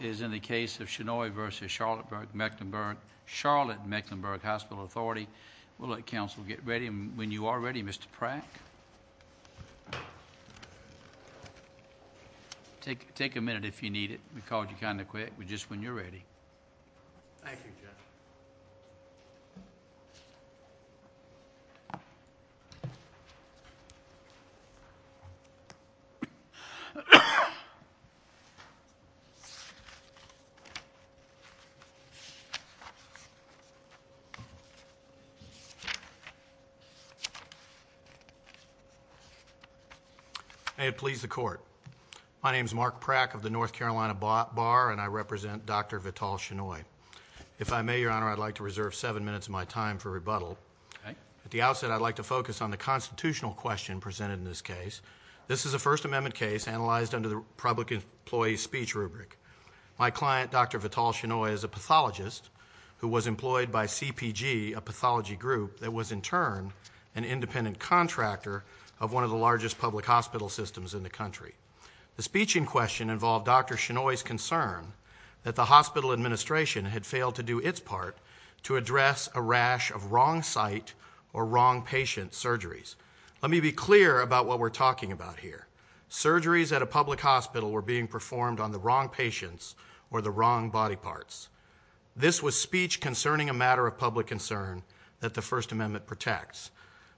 ...is in the case of Shenoy v. Charlotte-Mecklenburg Hospital Authority. We'll let council get ready. When you are ready, Mr. Pratt. Take a minute if you need it. We called you kind of quick, but just when you're ready. Thank you, Jeff. May it please the court. My name is Mark Pratt of the North Carolina Bar, and I represent Dr. Vital Shenoy. If I may, Your Honor, I'd like to reserve seven minutes of my time for rebuttal. At the outset, I'd like to focus on the constitutional question presented in this case. This is a First Amendment case analyzed under the public employee speech rubric. My client, Dr. Vital Shenoy, is a pathologist who was employed by CPG, a pathology group, that was in turn an independent contractor of one of the largest public hospital systems in the country. The speech in question involved Dr. Shenoy's concern that the hospital administration had failed to do its part to address a rash of wrong site or wrong patient surgeries. Let me be clear about what we're talking about here. Surgeries at a public hospital were being performed on the wrong patients or the wrong body parts. This was speech concerning a matter of public concern that the First Amendment protects.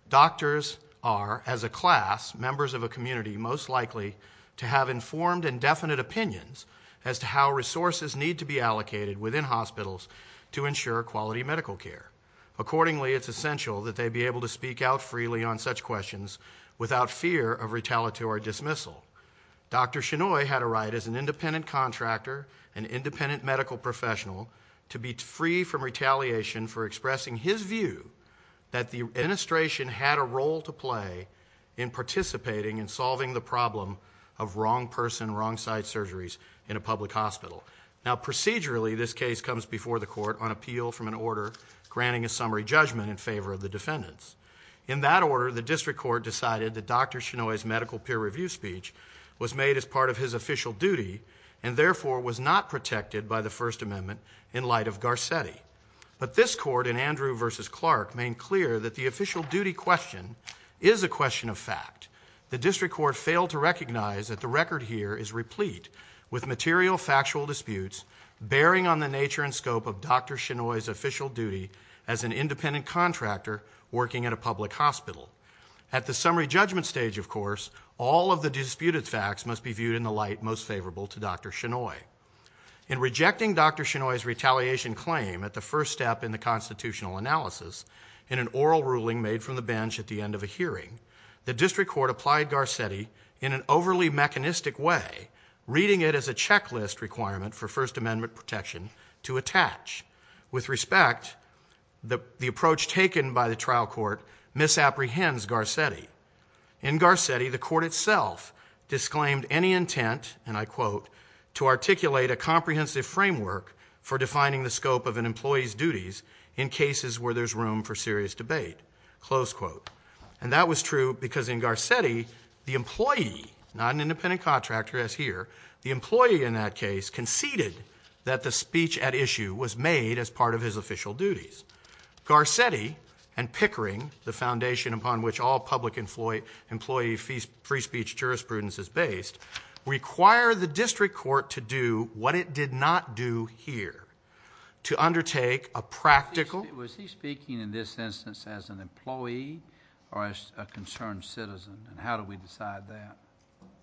Doctors are, as a class, members of a community, most likely to have informed and definite opinions as to how resources need to be allocated within hospitals to ensure quality medical care. Accordingly, it's essential that they be able to speak out freely on such questions without fear of retaliatory dismissal. Dr. Shenoy had a right as an independent contractor, an independent medical professional, to be free from retaliation for expressing his view that the administration had a role to play in participating in solving the problem of wrong person, wrong site surgeries in a public hospital. Now, procedurally, this case comes before the court on appeal from an order granting a summary judgment in favor of the defendants. In that order, the district court decided that Dr. Shenoy's medical peer review speech was made as part of his official duty and therefore was not protected by the First Amendment in light of Garcetti. But this court in Andrew v. Clark made clear that the official duty question is a question of fact. The district court failed to recognize that the record here is replete with material factual disputes bearing on the nature and scope of Dr. Shenoy's official duty as an independent contractor working at a public hospital. At the summary judgment stage, of course, all of the disputed facts must be viewed in the light most favorable to Dr. Shenoy. In rejecting Dr. Shenoy's retaliation claim at the first step in the constitutional analysis in an oral ruling made from the bench at the end of a hearing, the district court applied Garcetti in an overly mechanistic way, reading it as a checklist requirement for First Amendment protection to attach. With respect, the approach taken by the trial court misapprehends Garcetti. In Garcetti, the court itself disclaimed any intent, and I quote, to articulate a comprehensive framework for defining the scope of an employee's duties in cases where there's room for serious debate, close quote. And that was true because in Garcetti, the employee, not an independent contractor as here, the employee in that case conceded that the speech at issue was made as part of his official duties. Garcetti and Pickering, the foundation upon which all public employee free speech jurisprudence is based, require the district court to do what it did not do here, to undertake a practical. Was he speaking in this instance as an employee or as a concerned citizen, and how do we decide that?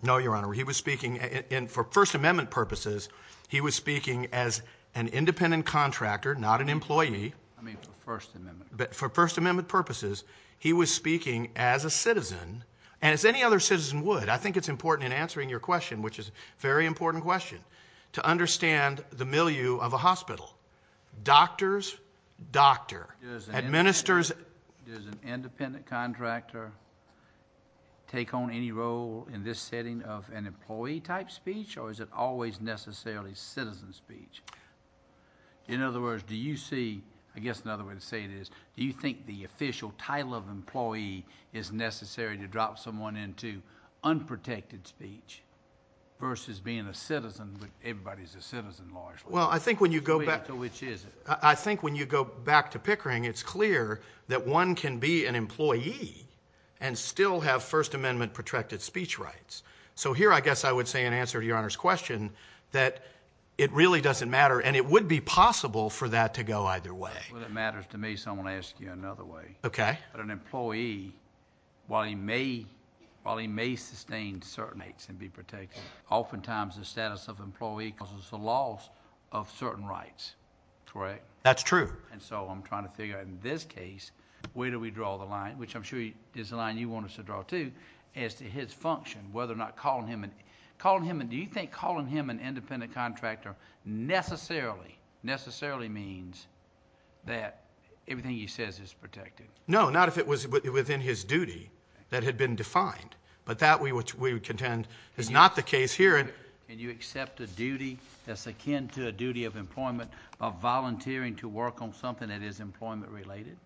No, Your Honor, he was speaking, and for First Amendment purposes, he was speaking as an independent contractor, not an employee. I mean for First Amendment purposes. For First Amendment purposes, he was speaking as a citizen, and as any other citizen would. I think it's important in answering your question, which is a very important question, to understand the milieu of a hospital. Doctors, doctor, administers. Does an independent contractor take on any role in this setting of an employee-type speech, or is it always necessarily citizen speech? In other words, do you see, I guess another way to say it is, do you think the official title of employee is necessary to drop someone into unprotected speech versus being a citizen, but everybody's a citizen largely. Well, I think when you go back to Pickering, it's clear that one can be an employee and still have First Amendment protracted speech rights. So here I guess I would say in answer to Your Honor's question that it really doesn't matter, and it would be possible for that to go either way. Well, it matters to me, so I'm going to ask you another way. Okay. But an employee, while he may sustain certain rights and be protected, oftentimes the status of employee causes the loss of certain rights, correct? That's true. And so I'm trying to figure out in this case, where do we draw the line, which I'm sure is the line you want us to draw too, as to his function, whether or not calling him... Everything he says is protected. No, not if it was within his duty that had been defined. But that we would contend is not the case here. Can you accept a duty that's akin to a duty of employment of volunteering to work on something that is employment-related?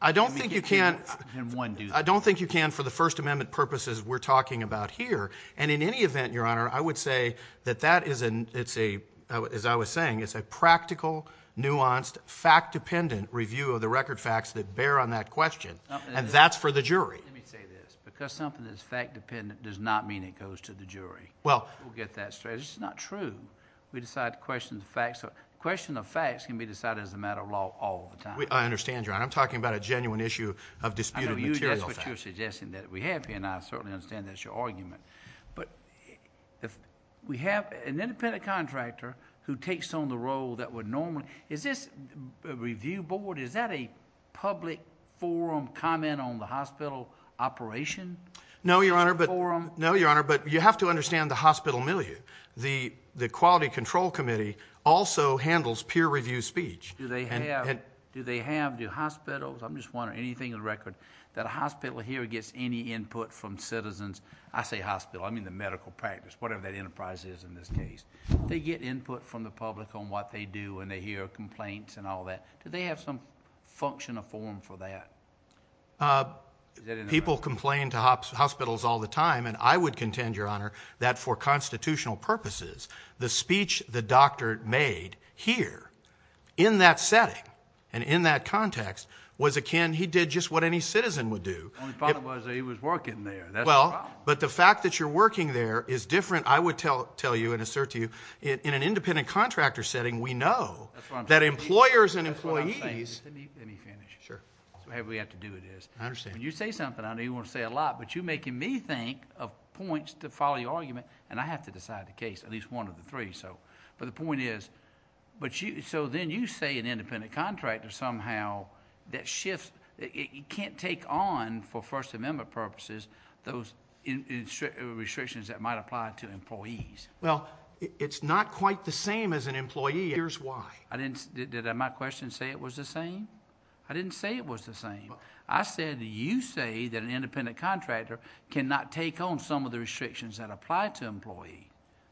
I don't think you can. I mean, you can't in one duty. I don't think you can for the First Amendment purposes we're talking about here. And in any event, Your Honor, I would say that that is a, as I was saying, it's a practical, nuanced, fact-dependent review of the record facts that bear on that question. And that's for the jury. Let me say this. Because something that's fact-dependent does not mean it goes to the jury. Well... We'll get that straight. It's not true. We decide to question the facts. A question of facts can be decided as a matter of law all the time. I understand, Your Honor. I'm talking about a genuine issue of disputed material facts. I know that's what you're suggesting that we have here. And I certainly understand that's your argument. But if we have an independent contractor who takes on the role that would normally... Is this a review board? Is that a public forum comment on the hospital operation? No, Your Honor. But... No, Your Honor. But you have to understand the hospital milieu. The Quality Control Committee also handles peer review speech. Do they have... And... Do they have... Do hospitals... I'm just wondering anything in the record that a hospital here gets any input from citizens. I say hospital. I mean the medical practice. Whatever that enterprise is in this case. They get input from the public on what they do and they hear complaints and all that. Do they have some function or form for that? People complain to hospitals all the time. And I would contend, Your Honor, that for constitutional purposes, the speech the doctor made here in that setting and in that context was akin... He did just what any citizen would do. Only problem was that he was working there. That's the problem. Well, but the fact that you're working there is different, I would tell you and assert to you. In an independent contractor setting, we know... That's what I'm saying.... that employers and employees... That's what I'm saying. Let me finish. Sure. That's what we have to do with this. I understand. When you say something, I know you want to say a lot, but you're making me think of points to follow your argument. And I have to decide the case, at least one of the three. But the point is... So then you say an independent contractor somehow that shifts... It can't take on, for First Amendment purposes, those restrictions that might apply to employees. Well, it's not quite the same as an employee. Here's why. I didn't... Did my question say it was the same? I didn't say it was the same. I said you say that an independent contractor cannot take on some of the restrictions that apply to employees.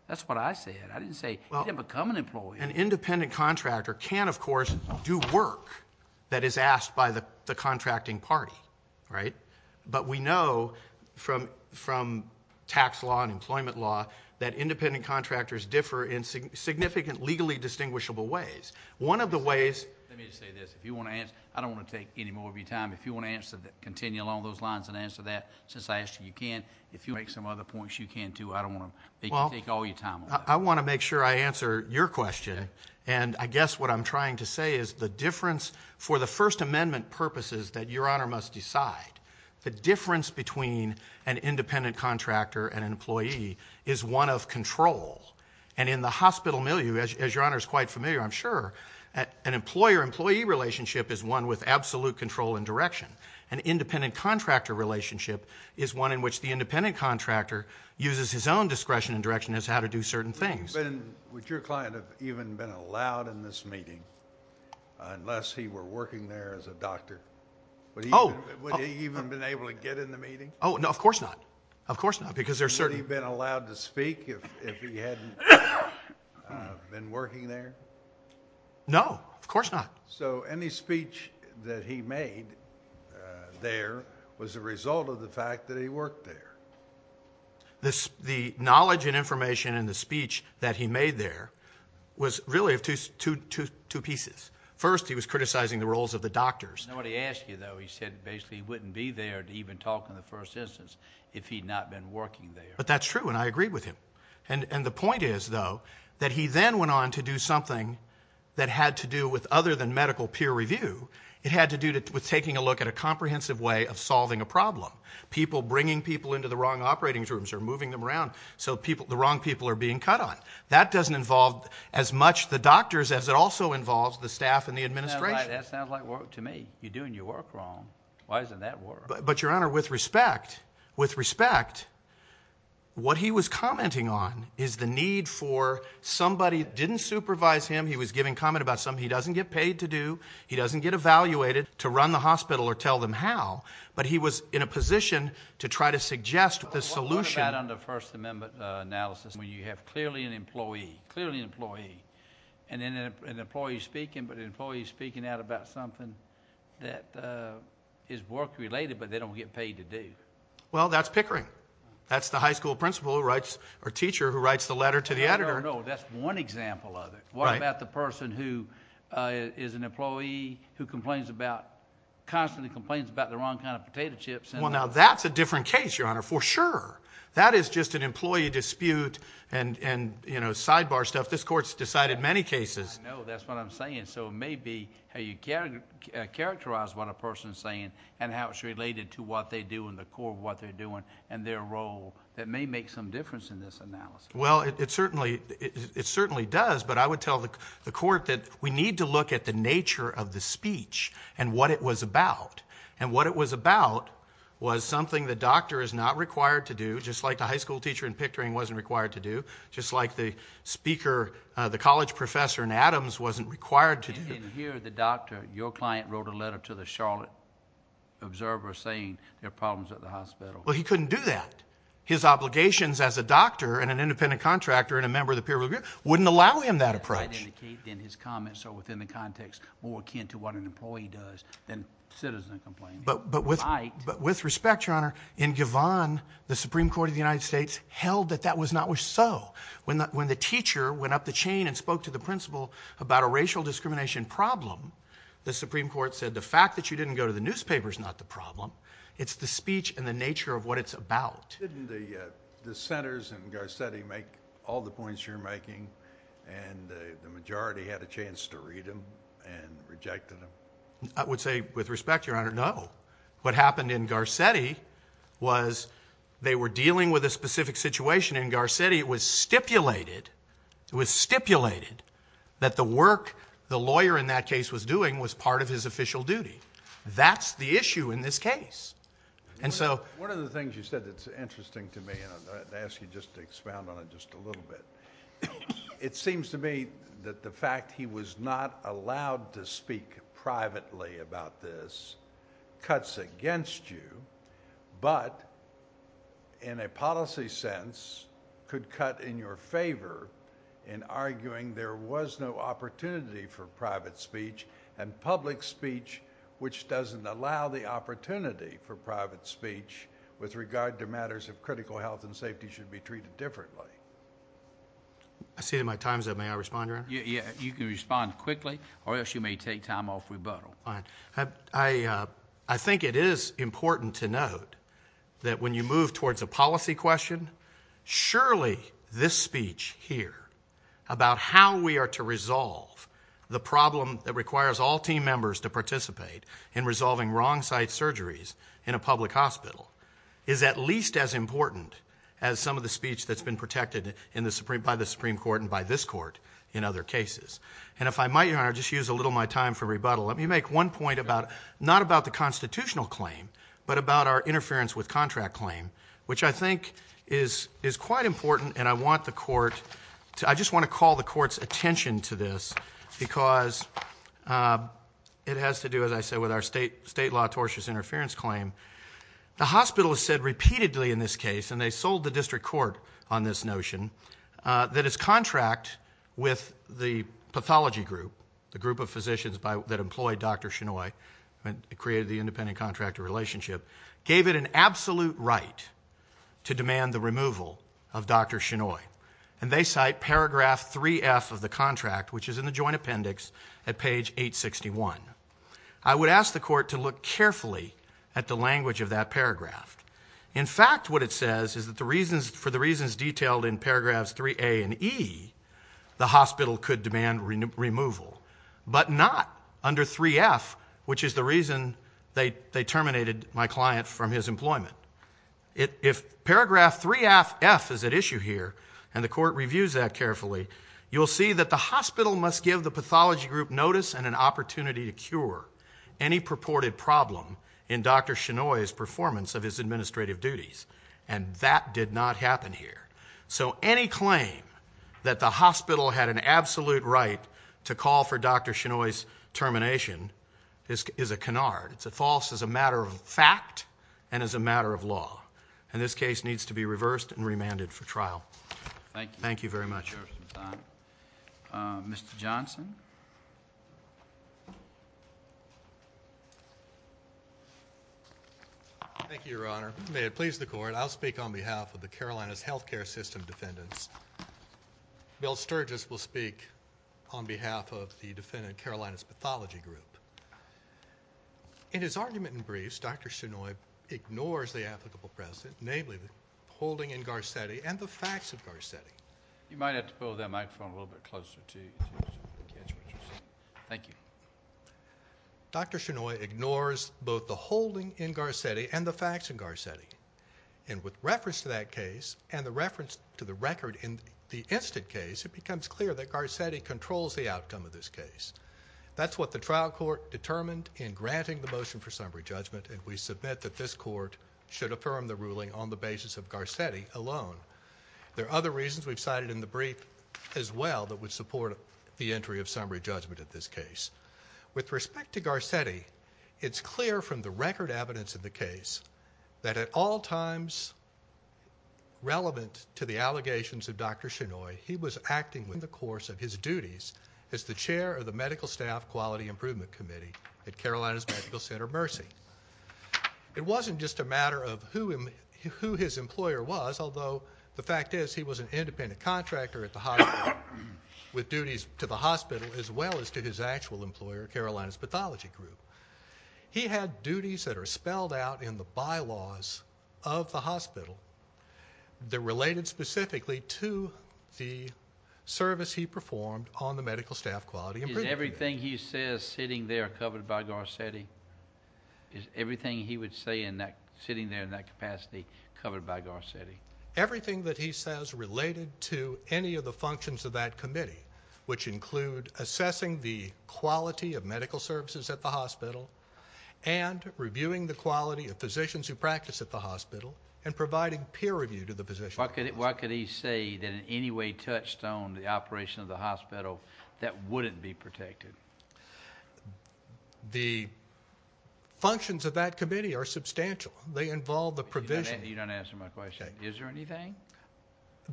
That's what I said. I didn't say... Well... You didn't become an employee. An independent contractor can, of course, do work that is asked by the contracting party, right? But we know from tax law and employment law that independent contractors differ in significant legally distinguishable ways. One of the ways... Let me just say this. If you want to answer... I don't want to take any more of your time. If you want to continue along those lines and answer that, since I asked you, you can. If you want to make some other points, you can, too. I don't want to make you take all your time on that. I want to make sure I answer your question. And I guess what I'm trying to say is the difference for the First Amendment purposes that Your Honor must decide, the difference between an independent contractor and an employee is one of control. And in the hospital milieu, as Your Honor is quite familiar, I'm sure, an employer-employee relationship is one with absolute control and direction. An independent contractor relationship is one in which the independent contractor uses his own discretion and direction as how to do certain things. Would your client have even been allowed in this meeting unless he were working there as a doctor? Would he even have been able to get in the meeting? Oh, no, of course not. Of course not, because there are certain... Would he have been allowed to speak if he hadn't been working there? No, of course not. So any speech that he made there was a result of the fact that he worked there. The knowledge and information in the speech that he made there was really of two pieces. First, he was criticizing the roles of the doctors. Nobody asked you, though. He said basically he wouldn't be there to even talk in the first instance if he'd not been working there. But that's true, and I agree with him. And the point is, though, that he then went on to do something that had to do with other than medical peer review. It had to do with taking a look at a comprehensive way of solving a problem. People bringing people into the wrong operating rooms or moving them around so the wrong people are being cut on. That doesn't involve as much the doctors as it also involves the staff and the administration. That sounds like work to me. You're doing your work wrong. Why isn't that work? But, Your Honor, with respect, with respect, what he was commenting on is the need for somebody didn't supervise him. He was giving comment about something he doesn't get paid to do. He doesn't get evaluated to run the hospital or tell them how. But he was in a position to try to suggest the solution. What about under First Amendment analysis when you have clearly an employee, clearly an employee, and then an employee is speaking, but an employee is speaking out about something that is work-related but they don't get paid to do? Well, that's pickering. That's the high school principal who writes or teacher who writes the letter to the editor. No, no, no. That's one example of it. What about the person who is an employee who complains about, constantly complains about the wrong kind of potato chips? Well, now, that's a different case, Your Honor, for sure. That is just an employee dispute and, you know, sidebar stuff. This Court has decided many cases. I know. That's what I'm saying. So it may be how you characterize what a person is saying and how it's related to what they do and the core of what they're doing and their role that may make some difference in this analysis. Well, it certainly does, but I would tell the Court that we need to look at the nature of the speech and what it was about. And what it was about was something the doctor is not required to do, just like the high school teacher in pickering wasn't required to do, just like the speaker, the college professor in Adams wasn't required to do. And here, the doctor, your client, wrote a letter to the Charlotte Observer saying there are problems at the hospital. Well, he couldn't do that. His obligations as a doctor and an independent contractor and a member of the peer review wouldn't allow him that approach. That might indicate, then, his comments are within the context more akin to what an employee does than citizen complaints. But with respect, Your Honor, in Givhan, the Supreme Court of the United States held that that was not so. When the teacher went up the chain and spoke to the principal about a racial discrimination problem, the Supreme Court said the fact that you didn't go to the newspaper is not the problem. It's the speech and the nature of what it's about. Didn't the senators in Garcetti make all the points you're making and the majority had a chance to read them and rejected them? I would say, with respect, Your Honor, no. What happened in Garcetti was they were dealing with a specific situation in Garcetti. It was stipulated that the work the lawyer in that case was doing was part of his official duty. That's the issue in this case. One of the things you said that's interesting to me, and I ask you just to expound on it just a little bit, it seems to me that the fact he was not allowed to speak privately about this cuts against you, but in a policy sense could cut in your favor in arguing there was no opportunity for private speech and public speech, which doesn't allow the opportunity for private speech, with regard to matters of critical health and safety should be treated differently. I see my time's up. May I respond, Your Honor? You can respond quickly or else you may take time off rebuttal. I think it is important to note that when you move towards a policy question, surely this speech here about how we are to resolve the problem that requires all team members to participate in resolving wrong site surgeries in a public hospital is at least as important as some of the speech that's been protected by the Supreme Court and by this Court in other cases. And if I might, Your Honor, just use a little of my time for rebuttal. Let me make one point, not about the constitutional claim, but about our interference with contract claim, which I think is quite important, and I just want to call the Court's attention to this because it has to do, as I said, with our state law tortious interference claim. The hospital has said repeatedly in this case, and they sold the district court on this notion, that its contract with the pathology group, the group of physicians that employ Dr. Shinoy, who created the independent contractor relationship, gave it an absolute right to demand the removal of Dr. Shinoy. And they cite paragraph 3F of the contract, which is in the joint appendix at page 861. I would ask the Court to look carefully at the language of that paragraph. In fact, what it says is that for the reasons detailed in paragraphs 3A and E, the hospital could demand removal, but not under 3F, which is the reason they terminated my client from his employment. If paragraph 3F is at issue here, and the Court reviews that carefully, you'll see that the hospital must give the pathology group notice and an opportunity to cure any purported problem in Dr. Shinoy's performance of his administrative duties, and that did not happen here. So any claim that the hospital had an absolute right to call for Dr. Shinoy's termination is a canard. It's a false as a matter of fact and as a matter of law. And this case needs to be reversed and remanded for trial. Thank you. Thank you very much. Mr. Johnson. Thank you, Your Honor. May it please the Court, I'll speak on behalf of the Carolinas Healthcare System defendants. Bill Sturgis will speak on behalf of the defendant Carolinas Pathology Group. In his argument and briefs, Dr. Shinoy ignores the applicable precedent, namely the holding in Garcetti and the facts of Garcetti. You might have to pull that microphone a little bit closer to the kids. Thank you. Dr. Shinoy ignores both the holding in Garcetti and the facts in Garcetti. And with reference to that case and the reference to the record in the instant case, it becomes clear that Garcetti controls the outcome of this case. That's what the trial court determined in granting the motion for summary judgment, and we submit that this court should affirm the ruling on the basis of Garcetti alone. There are other reasons we've cited in the brief as well that would support the entry of summary judgment in this case. With respect to Garcetti, it's clear from the record evidence in the case that at all times relevant to the allegations of Dr. Shinoy, he was acting in the course of his duties as the chair of the Medical Staff Quality Improvement Committee at Carolinas Medical Center Mercy. It wasn't just a matter of who his employer was, although the fact is he was an independent contractor at the hospital with duties to the hospital as well as to his actual employer, Carolinas Pathology Group. He had duties that are spelled out in the bylaws of the hospital that related specifically to the service he performed on the Medical Staff Quality Improvement Committee. Is everything he says sitting there covered by Garcetti? Is everything he would say sitting there in that capacity covered by Garcetti? Everything that he says related to any of the functions of that committee, which include assessing the quality of medical services at the hospital and reviewing the quality of physicians who practice at the hospital and providing peer review to the physician. Why could he say that in any way touched on the operation of the hospital that wouldn't be protected? The functions of that committee are substantial. They involve the provision... You don't answer my question. Okay. Is there anything?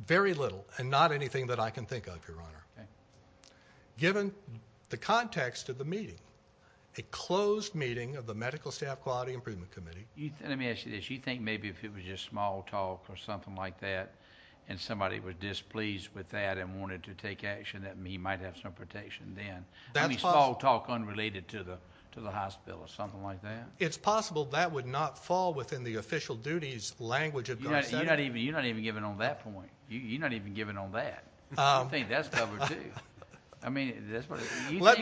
Very little and not anything that I can think of, Your Honor. Okay. Given the context of the meeting, a closed meeting of the Medical Staff Quality Improvement Committee... Let me ask you this. You think maybe if it was just small talk or something like that and somebody was displeased with that and wanted to take action that he might have some protection then? That's possible. Only small talk unrelated to the hospital or something like that? It's possible that would not fall within the official duties language of Garcetti. You're not even giving on that point. You're not even giving on that. I think that's covered too. I mean... Let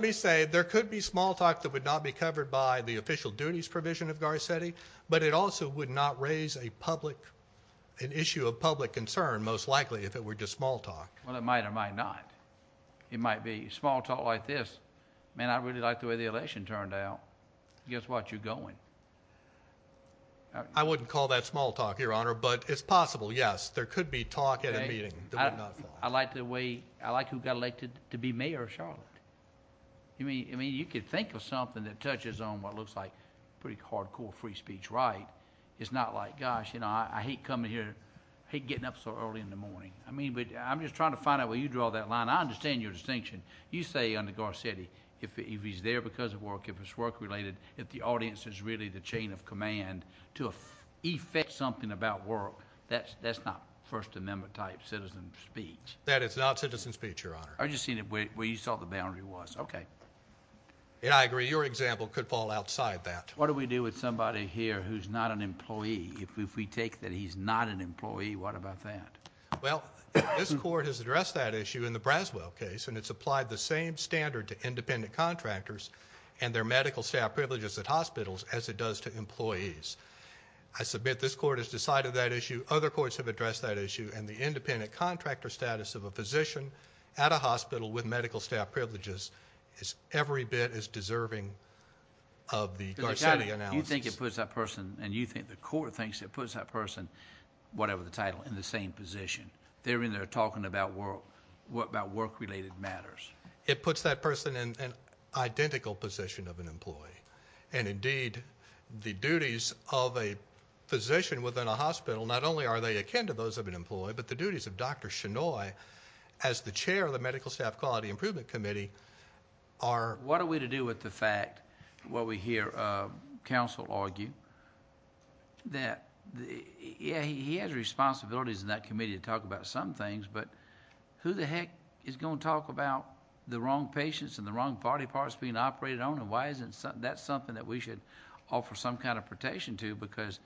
me say there could be small talk that would not be covered by the official duties provision of Garcetti, but it also would not raise an issue of public concern most likely if it were just small talk. Well, it might or might not. It might be small talk like this. Man, I really like the way the election turned out. Guess what? You're going. I wouldn't call that small talk, Your Honor, but it's possible, yes, there could be talk at a meeting that would not fall. I like the way... I like who got elected to be mayor of Charlotte. I mean, you could think of something that touches on what looks like pretty hardcore free speech right. It's not like, gosh, you know, I hate coming here. I hate getting up so early in the morning. I mean, I'm just trying to find out where you draw that line. I understand your distinction. You say under Garcetti, if he's there because of work, if it's work-related, if the audience is really the chain of command to effect something about work, that's not First Amendment-type citizen speech. That is not citizen speech, Your Honor. I'm just saying where you saw the boundary was. Okay. Yeah, I agree. Your example could fall outside that. What do we do with somebody here who's not an employee? If we take that he's not an employee, what about that? Well, this court has addressed that issue in the Braswell case, and it's applied the same standard to independent contractors and their medical staff privileges at hospitals as it does to employees. I submit this court has decided that issue. Other courts have addressed that issue, and the independent contractor status of a physician at a hospital with medical staff privileges is every bit as deserving of the Garcetti analysis. You think it puts that person, and you think the court thinks it puts that person, whatever the title, in the same position. They're in there talking about work-related matters. It puts that person in an identical position of an employee, and indeed the duties of a physician within a hospital, not only are they akin to those of an employee, but the duties of Dr. Chenoy as the chair of the Medical Staff Quality Improvement Committee are... What are we to do with the fact, what we hear counsel argue, that, yeah, he has responsibilities in that committee to talk about some things, but who the heck is going to talk about the wrong patients and the wrong body parts being operated on, and why isn't that something that we should offer some kind of protection to, because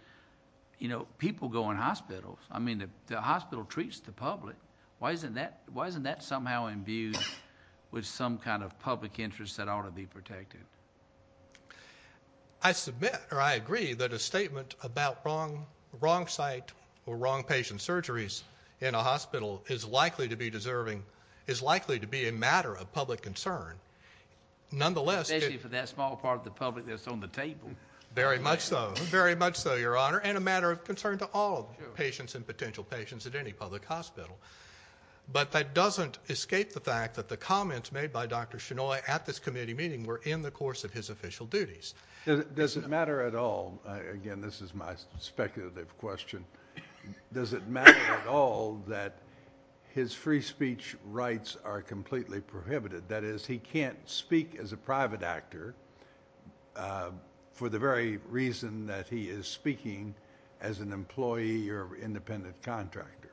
people go in hospitals. I mean, the hospital treats the public. Why isn't that somehow imbued with some kind of public interest that ought to be protected? I submit, or I agree, that a statement about wrong site or wrong patient surgeries in a hospital is likely to be deserving, is likely to be a matter of public concern. Nonetheless... Especially for that small part of the public that's on the table. Very much so, very much so, Your Honor, and a matter of concern to all patients and potential patients at any public hospital. But that doesn't escape the fact that the comments made by Dr. Chenoy at this committee meeting were in the course of his official duties. Does it matter at all? Again, this is my speculative question. Does it matter at all that his free speech rights are completely prohibited? That is, he can't speak as a private actor for the very reason that he is speaking as an employee or independent contractor.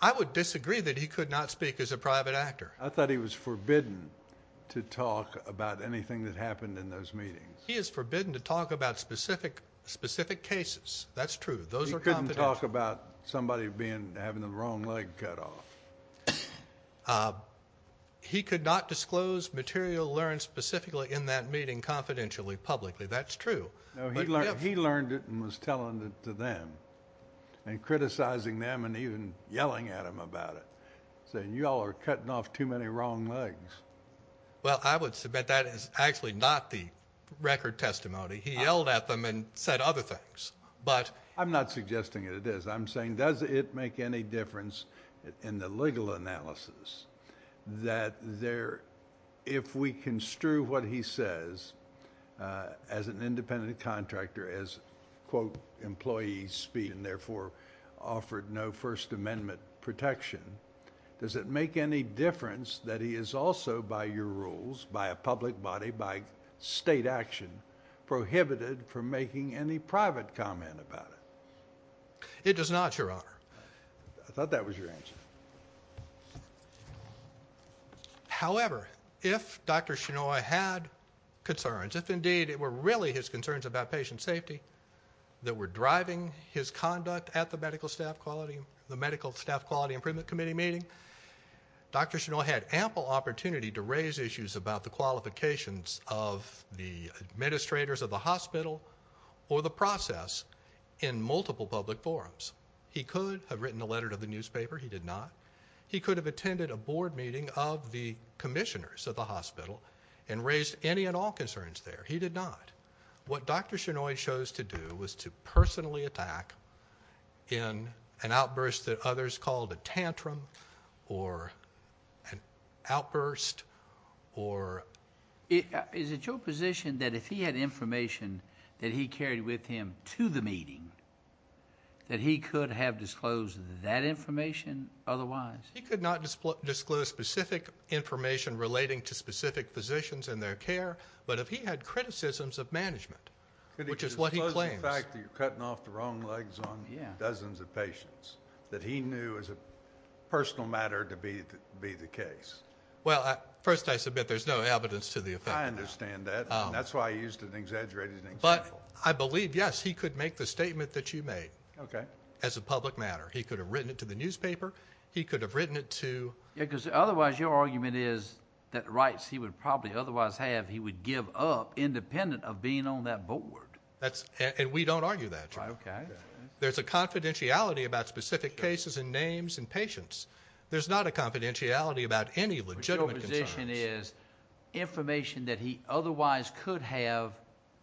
I would disagree that he could not speak as a private actor. I thought he was forbidden to talk about anything that happened in those meetings. He is forbidden to talk about specific cases. That's true. Those are confidential. He could not talk about somebody having the wrong leg cut off. He could not disclose material learned specifically in that meeting confidentially, publicly. That's true. He learned it and was telling it to them and criticizing them and even yelling at them about it, saying you all are cutting off too many wrong legs. Well, I would submit that is actually not the record testimony. He yelled at them and said other things. I'm not suggesting it is. I'm saying does it make any difference in the legal analysis that if we construe what he says as an independent contractor, as, quote, employee speech and therefore offered no First Amendment protection, does it make any difference that he is also, by your rules, by a public body, by state action, prohibited from making any private comment about it? It does not, Your Honor. I thought that was your answer. However, if Dr. Shinoy had concerns, if indeed it were really his concerns about patient safety that were driving his conduct at the Medical Staff Quality Improvement Committee meeting, Dr. Shinoy had ample opportunity to raise issues about the qualifications of the administrators of the hospital or the process in multiple public forums. He could have written a letter to the newspaper. He did not. He could have attended a board meeting of the commissioners of the hospital and raised any and all concerns there. He did not. What Dr. Shinoy chose to do was to personally attack in an outburst that others called a tantrum or an outburst or... Is it your position that if he had information that he carried with him to the meeting that he could have disclosed that information otherwise? He could not disclose specific information relating to specific physicians and their care, but if he had criticisms of management, which is what he claims... Could he disclose the fact that you're cutting off the wrong legs on dozens of patients that he knew as a personal matter to be the case? Well, first I submit there's no evidence to the effect. I understand that, and that's why I used an exaggerated example. But I believe, yes, he could make the statement that you made as a public matter. He could have written it to the newspaper. He could have written it to... Because otherwise your argument is that rights he would probably otherwise have he would give up independent of being on that board. And we don't argue that. There's a confidentiality about specific cases and names and patients. There's not a confidentiality about any legitimate concerns. Your position is information that he otherwise could have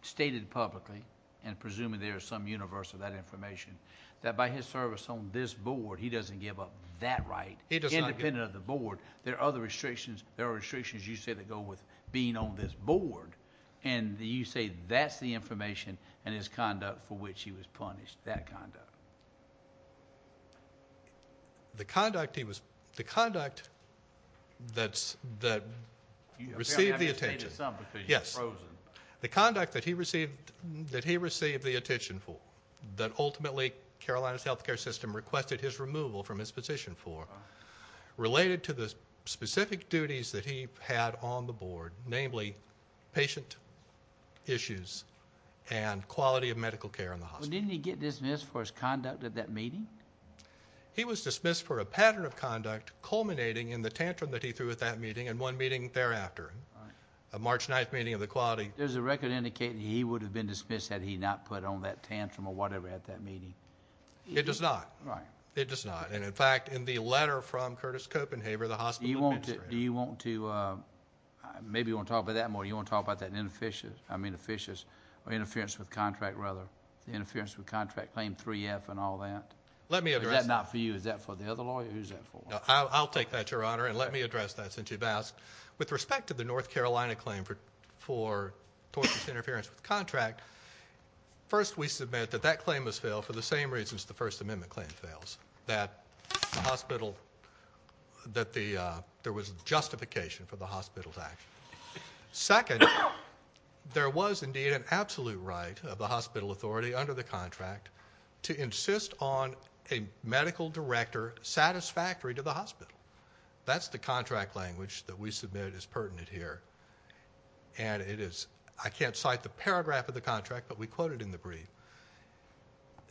stated publicly, and presumably there is some universe of that information, that by his service on this board he doesn't give up that right independent of the board. There are other restrictions. There are restrictions, you say, that go with being on this board. And you say that's the information and his conduct for which he was punished, that conduct. The conduct that received the attention. Yes. The conduct that he received the attention for that ultimately Carolina's health care system requested his removal from his position for related to the specific duties that he had on the board, namely patient issues and quality of medical care in the hospital. Didn't he get dismissed for his conduct at that meeting? He was dismissed for a pattern of conduct culminating in the tantrum that he threw at that meeting and one meeting thereafter, a March 9th meeting of the quality. There's a record indicating he would have been dismissed had he not put on that tantrum or whatever at that meeting. It does not. Right. It does not. And, in fact, in the letter from Curtis Copenhaver, the hospital administrator. Do you want to, maybe you want to talk about that more. Do you want to talk about that inefficient, I mean, inefficient or interference with contract rather, the interference with contract claim 3F and all that? Let me address that. Is that not for you? Is that for the other lawyer? Who's that for? I'll take that, Your Honor, and let me address that since you've asked. With respect to the North Carolina claim for tortious interference with contract, first we submit that that claim was failed for the same reasons the First Amendment claim fails, that the hospital, that there was justification for the hospital's action. Second, there was indeed an absolute right of the hospital authority under the contract to insist on a medical director satisfactory to the hospital. That's the contract language that we submitted as pertinent here, and it is, I can't cite the paragraph of the contract, but we quote it in the brief.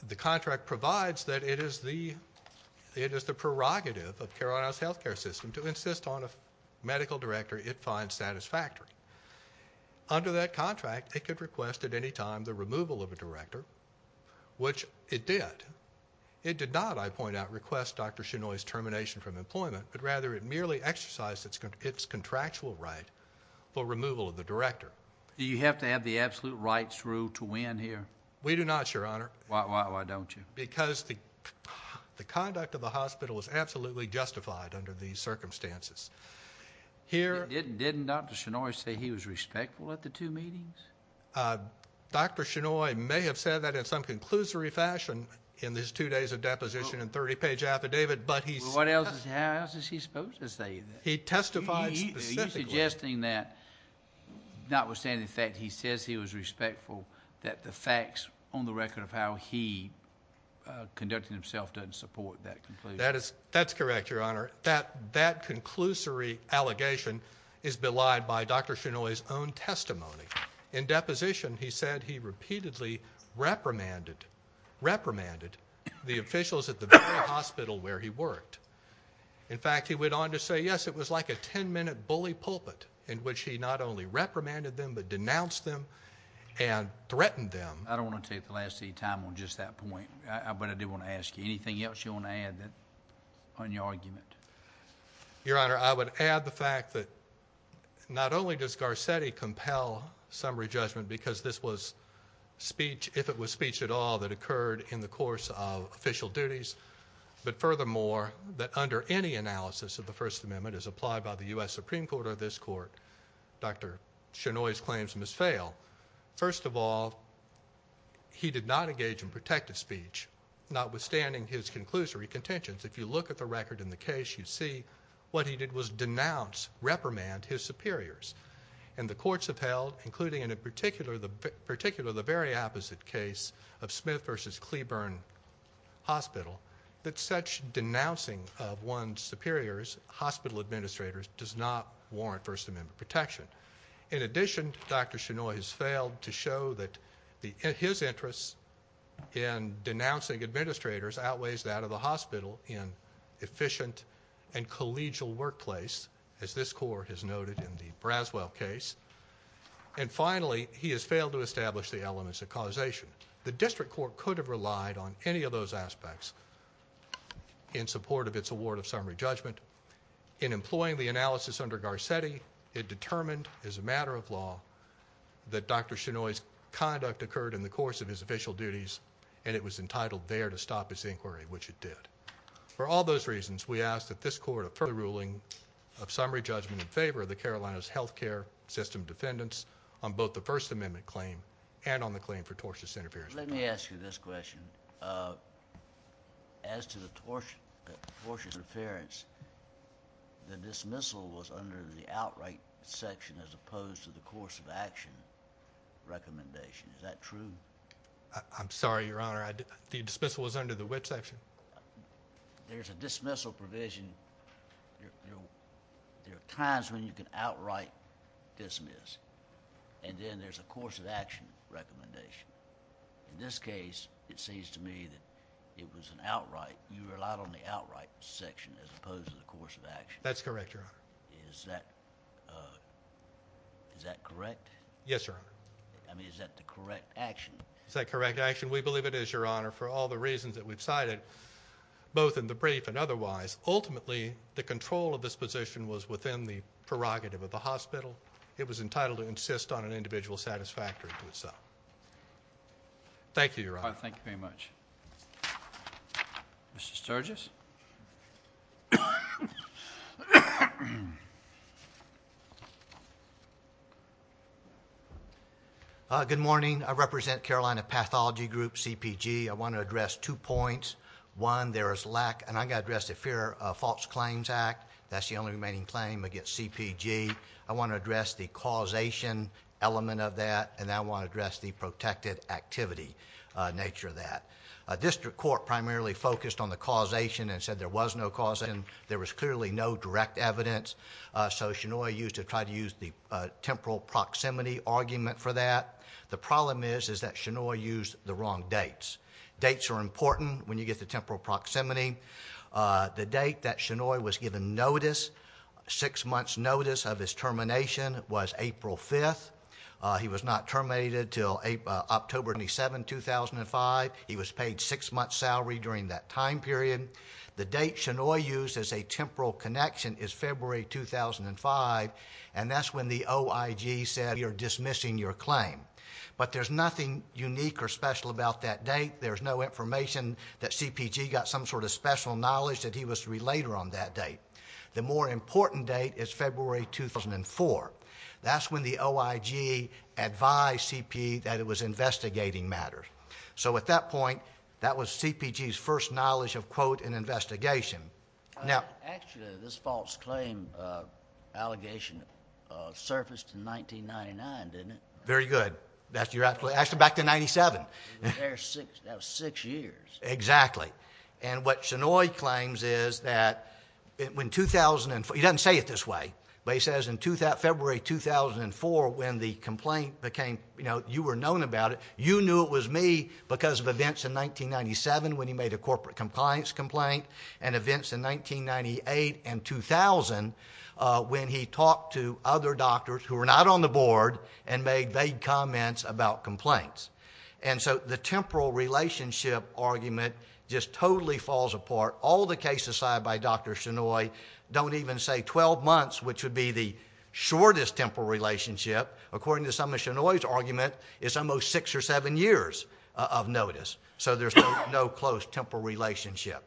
The contract provides that it is the prerogative of Carolina's health care system to insist on a medical director it finds satisfactory. Under that contract, it could request at any time the removal of a director, which it did. It did not, I point out, request Dr. Chenoy's termination from employment, but rather it merely exercised its contractual right for removal of the director. Do you have to have the absolute rights rule to win here? We do not, Your Honor. Why don't you? Because the conduct of the hospital was absolutely justified under these circumstances. Didn't Dr. Chenoy say he was respectful at the two meetings? Dr. Chenoy may have said that in some conclusory fashion in his two days of deposition and 30-page affidavit, but he— How else is he supposed to say that? He testified specifically. Are you suggesting that, notwithstanding the fact he says he was respectful, that the facts on the record of how he conducted himself doesn't support that conclusion? That's correct, Your Honor. That conclusory allegation is belied by Dr. Chenoy's own testimony. In deposition, he said he repeatedly reprimanded the officials at the hospital where he worked. In fact, he went on to say, yes, it was like a 10-minute bully pulpit in which he not only reprimanded them but denounced them and threatened them. I don't want to take the last of your time on just that point, but I do want to ask you, anything else you want to add on your argument? Your Honor, I would add the fact that not only does Garcetti compel summary judgment because this was speech, if it was speech at all, that occurred in the course of official duties, but furthermore, that under any analysis of the First Amendment as applied by the U.S. Supreme Court or this Court, Dr. Chenoy's claims must fail. First of all, he did not engage in protective speech, notwithstanding his conclusory contentions. If you look at the record in the case, you see what he did was denounce, reprimand his superiors. And the courts have held, including in particular the very opposite case of Smith v. Cleburne Hospital, that such denouncing of one's superiors, hospital administrators, does not warrant First Amendment protection. In addition, Dr. Chenoy has failed to show that his interest in denouncing administrators outweighs that of the hospital in efficient and collegial workplace, as this Court has noted in the Braswell case. And finally, he has failed to establish the elements of causation. The District Court could have relied on any of those aspects in support of its award of summary judgment. In employing the analysis under Garcetti, it determined, as a matter of law, that Dr. Chenoy's conduct occurred in the course of his official duties, and it was entitled there to stop his inquiry, which it did. For all those reasons, we ask that this Court approve the ruling of summary judgment in favor of the Carolinas Health Care System defendants on both the First Amendment claim and on the claim for tortious interference. Let me ask you this question. As to the tortious interference, the dismissal was under the outright section as opposed to the course of action recommendation. Is that true? I'm sorry, Your Honor. The dismissal was under the which section? There's a dismissal provision. There are times when you can outright dismiss, and then there's a course of action recommendation. In this case, it seems to me that it was an outright. You relied on the outright section as opposed to the course of action. That's correct, Your Honor. Is that correct? Yes, Your Honor. I mean, is that the correct action? Is that correct action? We believe it is, Your Honor, for all the reasons that we've cited, both in the brief and otherwise. Ultimately, the control of this position was within the prerogative of the hospital. It was entitled to insist on an individual satisfactory to itself. Thank you, Your Honor. Thank you very much. Mr. Sturgis? Good morning. I represent Carolina Pathology Group, CPG. I want to address two points. One, there is lack, and I've got to address the Fear of False Claims Act. That's the only remaining claim against CPG. I want to address the causation element of that, and I want to address the protected activity nature of that. District Court primarily focused on the causation and said there was no causation. There was clearly no direct evidence, so Chenoy used to try to use the temporal proximity argument for that. The problem is that Chenoy used the wrong dates. Dates are important when you get the temporal proximity. The date that Chenoy was given notice, six months' notice of his termination, was April 5th. He was not terminated until October 27, 2005. He was paid a six-month salary during that time period. The date Chenoy used as a temporal connection is February 2005, and that's when the OIG said you're dismissing your claim. But there's nothing unique or special about that date. There's no information that CPG got some sort of special knowledge that he was to be later on that date. The more important date is February 2004. That's when the OIG advised CPG that it was investigating matters. So at that point, that was CPG's first knowledge of, quote, an investigation. Actually, this false claim allegation surfaced in 1999, didn't it? Very good. Actually, back to 1997. That was six years. Exactly. And what Chenoy claims is that in 2004, he doesn't say it this way, but he says in February 2004 when the complaint became, you know, you were known about it, you knew it was me because of events in 1997 when he made a corporate compliance complaint and events in 1998 and 2000 when he talked to other doctors who were not on the board and made vague comments about complaints. And so the temporal relationship argument just totally falls apart. All the cases cited by Dr. Chenoy don't even say 12 months, which would be the shortest temporal relationship. According to some of Chenoy's argument, it's almost six or seven years of notice. So there's no close temporal relationship.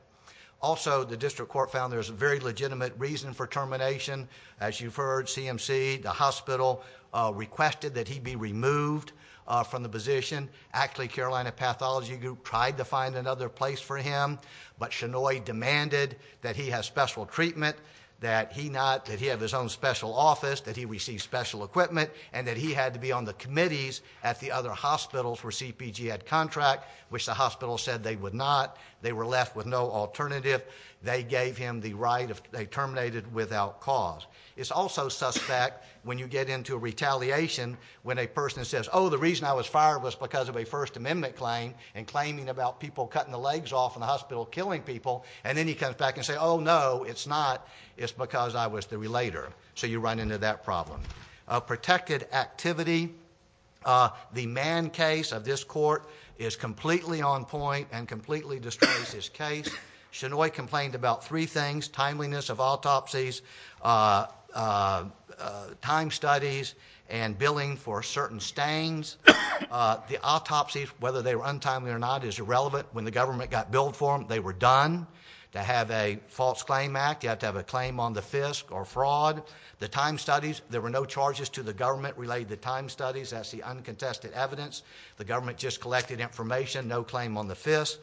Also, the district court found there's a very legitimate reason for termination. As you've heard, CMC, the hospital, requested that he be removed from the position. Actually, Carolina Pathology Group tried to find another place for him, but Chenoy demanded that he have special treatment, that he have his own special office, that he receive special equipment, and that he had to be on the committees at the other hospitals where CPG had contract, which the hospital said they would not. They were left with no alternative. They gave him the right. They terminated without cause. It's also suspect when you get into retaliation when a person says, oh, the reason I was fired was because of a First Amendment claim and claiming about people cutting the legs off in the hospital, killing people, and then he comes back and says, oh, no, it's not. It's because I was the relator. So you run into that problem. Protected activity, the Mann case of this court is completely on point and completely destroys this case. Chenoy complained about three things, timeliness of autopsies, time studies, and billing for certain stains. The autopsies, whether they were untimely or not, is irrelevant. When the government got billed for them, they were done. To have a false claim act, you have to have a claim on the FISC or fraud. The time studies, there were no charges to the government related to time studies. That's the uncontested evidence. The government just collected information, no claim on the FISC.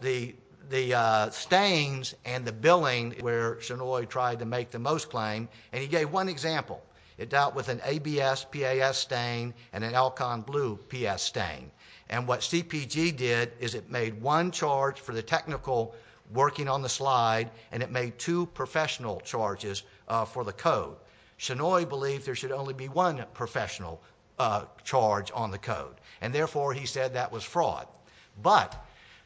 The stains and the billing where Chenoy tried to make the most claim, and he gave one example. It dealt with an ABS, PAS stain and an Alcon Blue PS stain. And what CPG did is it made one charge for the technical working on the slide, and it made two professional charges for the code. Chenoy believed there should only be one professional charge on the code, and therefore he said that was fraud. But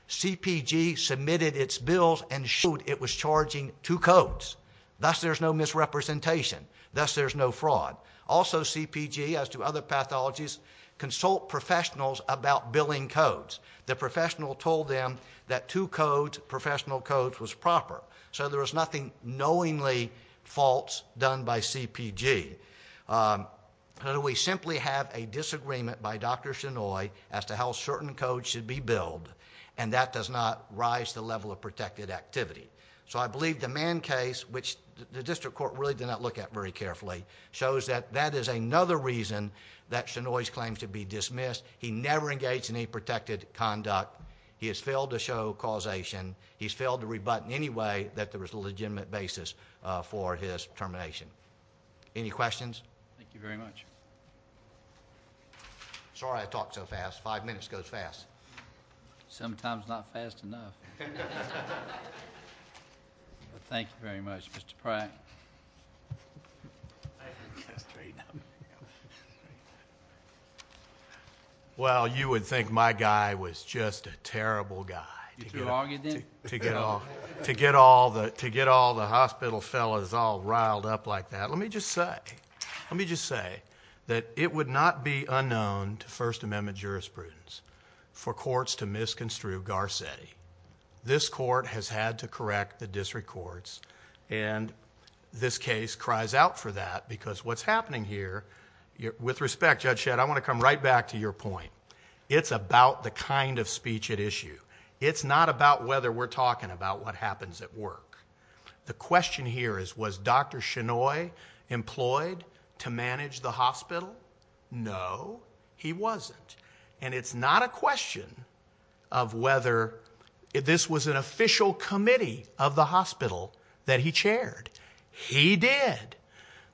CPG submitted its bills and showed it was charging two codes. Thus, there's no misrepresentation. Thus, there's no fraud. Also, CPG, as to other pathologies, consult professionals about billing codes. The professional told them that two codes, professional codes, was proper. So there was nothing knowingly false done by CPG. We simply have a disagreement by Dr. Chenoy as to how certain codes should be billed, and that does not rise the level of protected activity. So I believe the Mann case, which the district court really did not look at very carefully, shows that that is another reason that Chenoy's claim should be dismissed. He never engaged in any protected conduct. He has failed to show causation. He's failed to rebut in any way that there was a legitimate basis for his termination. Any questions? Thank you very much. Sorry I talk so fast. Five minutes goes fast. Sometimes not fast enough. Thank you very much, Mr. Pratt. Well, you would think my guy was just a terrible guy to get all the hospital fellows all riled up like that. Let me just say that it would not be unknown to First Amendment jurisprudence for courts to misconstrue Garcetti. This court has had to correct the district courts, and this case cries out for that because what's happening here, with respect, Judge Shedd, I want to come right back to your point. It's about the kind of speech at issue. It's not about whether we're talking about what happens at work. The question here is was Dr. Chenoy employed to manage the hospital? No, he wasn't. And it's not a question of whether this was an official committee of the hospital that he chaired. He did,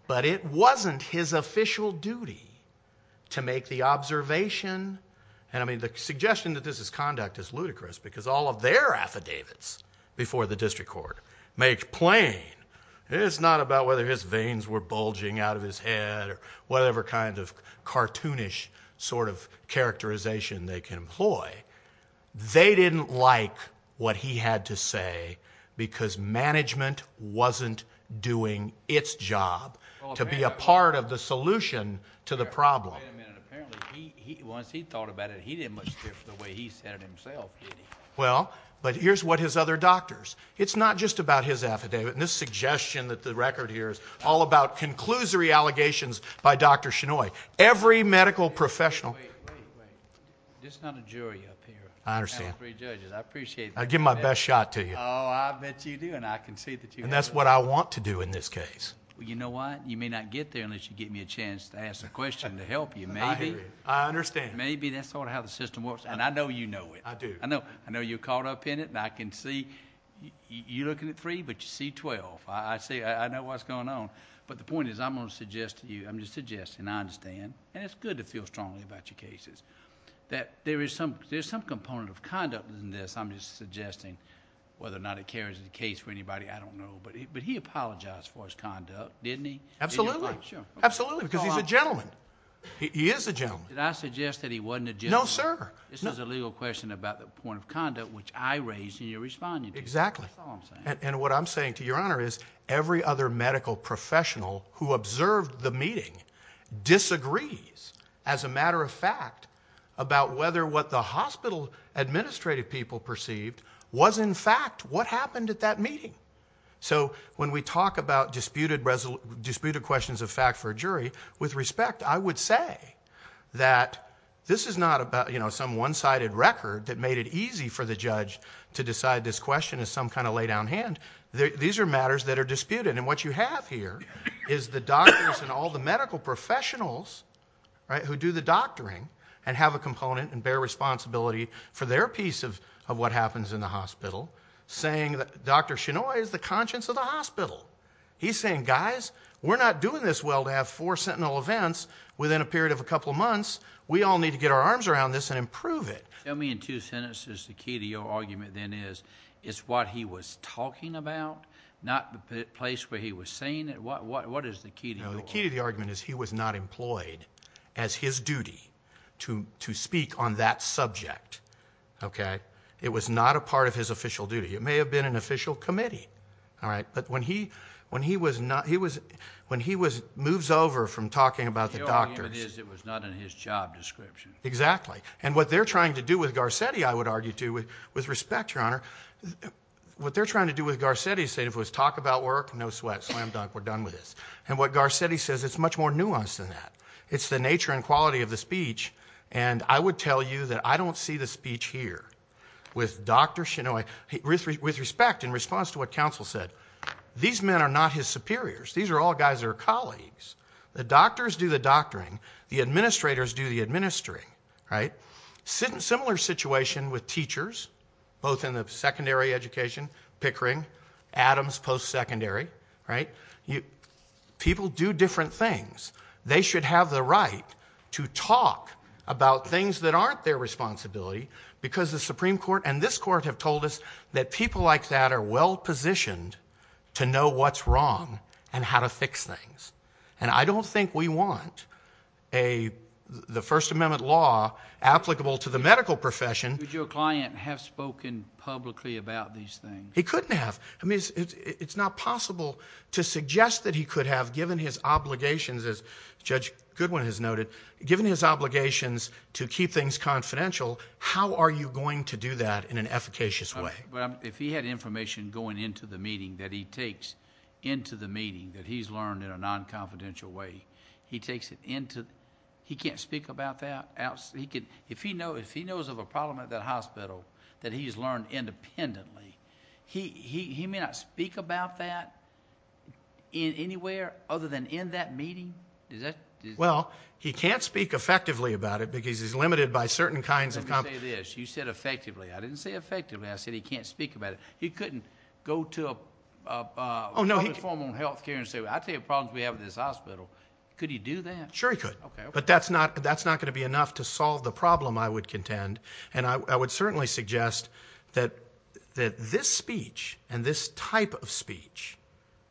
but it wasn't his official duty to make the observation. And, I mean, the suggestion that this is conduct is ludicrous because all of their affidavits before the district court make plain it's not about whether his veins were bulging out of his head or whatever kind of cartoonish sort of characterization they can employ. They didn't like what he had to say because management wasn't doing its job to be a part of the solution to the problem. Wait a minute. Apparently, once he thought about it, he didn't much care for the way he said it himself, did he? Well, but here's what his other doctors. It's not just about his affidavit. And this suggestion that the record here is all about conclusory allegations by Dr. Chenoy. Every medical professional. Wait, wait, wait. This is not a jury up here. I understand. I appreciate that. I give my best shot to you. Oh, I bet you do, and I can see that you do. And that's what I want to do in this case. Well, you know what? You may not get there unless you give me a chance to ask a question to help you. Maybe. I understand. Maybe that's sort of how the system works, and I know you know it. I do. I know you're caught up in it, and I can see. You're looking at three, but you see 12. I see. I know what's going on. But the point is, I'm going to suggest to you. I'm just suggesting. I understand. And it's good to feel strongly about your cases. That there is some component of conduct in this. I'm just suggesting whether or not it carries in the case for anybody. I don't know. But he apologized for his conduct, didn't he? Absolutely. Absolutely, because he's a gentleman. He is a gentleman. Did I suggest that he wasn't a gentleman? No, sir. This is a legal question about the point of conduct, which I raised and you're responding to. Exactly. That's all I'm saying. And what I'm saying to your Honor is, every other medical professional who observed the meeting disagrees, as a matter of fact, about whether what the hospital administrative people perceived was in fact what happened at that meeting. So when we talk about disputed questions of fact for a jury, with respect, I would say that this is not some one-sided record that made it easy for the judge to decide this question as some kind of laydown hand. These are matters that are disputed. And what you have here is the doctors and all the medical professionals who do the doctoring and have a component and bear responsibility for their piece of what happens in the hospital, saying that Dr. Chinoy is the conscience of the hospital. He's saying, guys, we're not doing this well to have four sentinel events within a period of a couple of months. We all need to get our arms around this and improve it. Tell me in two sentences the key to your argument then is it's what he was talking about, not the place where he was saying it. What is the key to your argument? The key to the argument is he was not employed as his duty to speak on that subject. It was not a part of his official duty. It may have been an official committee. All right. But when he moves over from talking about the doctors. The argument is it was not in his job description. Exactly. And what they're trying to do with Garcetti, I would argue, too, with respect, Your Honor, what they're trying to do with Garcetti is talk about work, no sweat, slam dunk, we're done with this. And what Garcetti says, it's much more nuanced than that. It's the nature and quality of the speech. And I would tell you that I don't see the speech here with Dr. Shinoy with respect in response to what counsel said. These men are not his superiors. These are all guys that are colleagues. The doctors do the doctoring. The administrators do the administering, right? Similar situation with teachers, both in the secondary education, Pickering, Adams post-secondary, right? People do different things. They should have the right to talk about things that aren't their responsibility because the Supreme Court and this court have told us that people like that are well positioned to know what's wrong and how to fix things. And I don't think we want the First Amendment law applicable to the medical profession. Would your client have spoken publicly about these things? He couldn't have. I mean, it's not possible to suggest that he could have given his obligations, as Judge Goodwin has noted, given his obligations to keep things confidential, how are you going to do that in an efficacious way? If he had information going into the meeting that he takes into the meeting that he's learned in a non-confidential way, he takes it into the—he can't speak about that? Now, if he knows of a problem at that hospital that he's learned independently, he may not speak about that anywhere other than in that meeting? Well, he can't speak effectively about it because he's limited by certain kinds of— Let me say this, you said effectively. I didn't say effectively, I said he can't speak about it. He couldn't go to a public forum on health care and say, well, I'll tell you the problems we have at this hospital. Could he do that? Sure he could. Okay. But that's not going to be enough to solve the problem, I would contend, and I would certainly suggest that this speech and this type of speech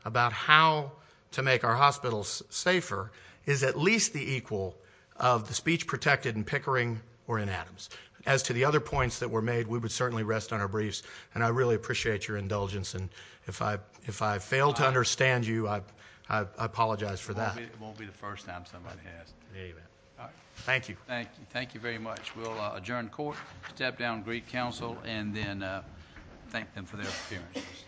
about how to make our hospitals safer is at least the equal of the speech protected in Pickering or in Adams. As to the other points that were made, we would certainly rest on our briefs, and I really appreciate your indulgence, and if I fail to understand you, I apologize for that. It won't be the first time somebody has. Amen. Thank you. Thank you. Thank you very much. We'll adjourn court, step down, greet counsel, and then thank them for their appearances.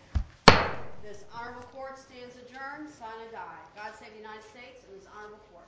This honorable court stands adjourned, sign and die. God save the United States and this honorable court.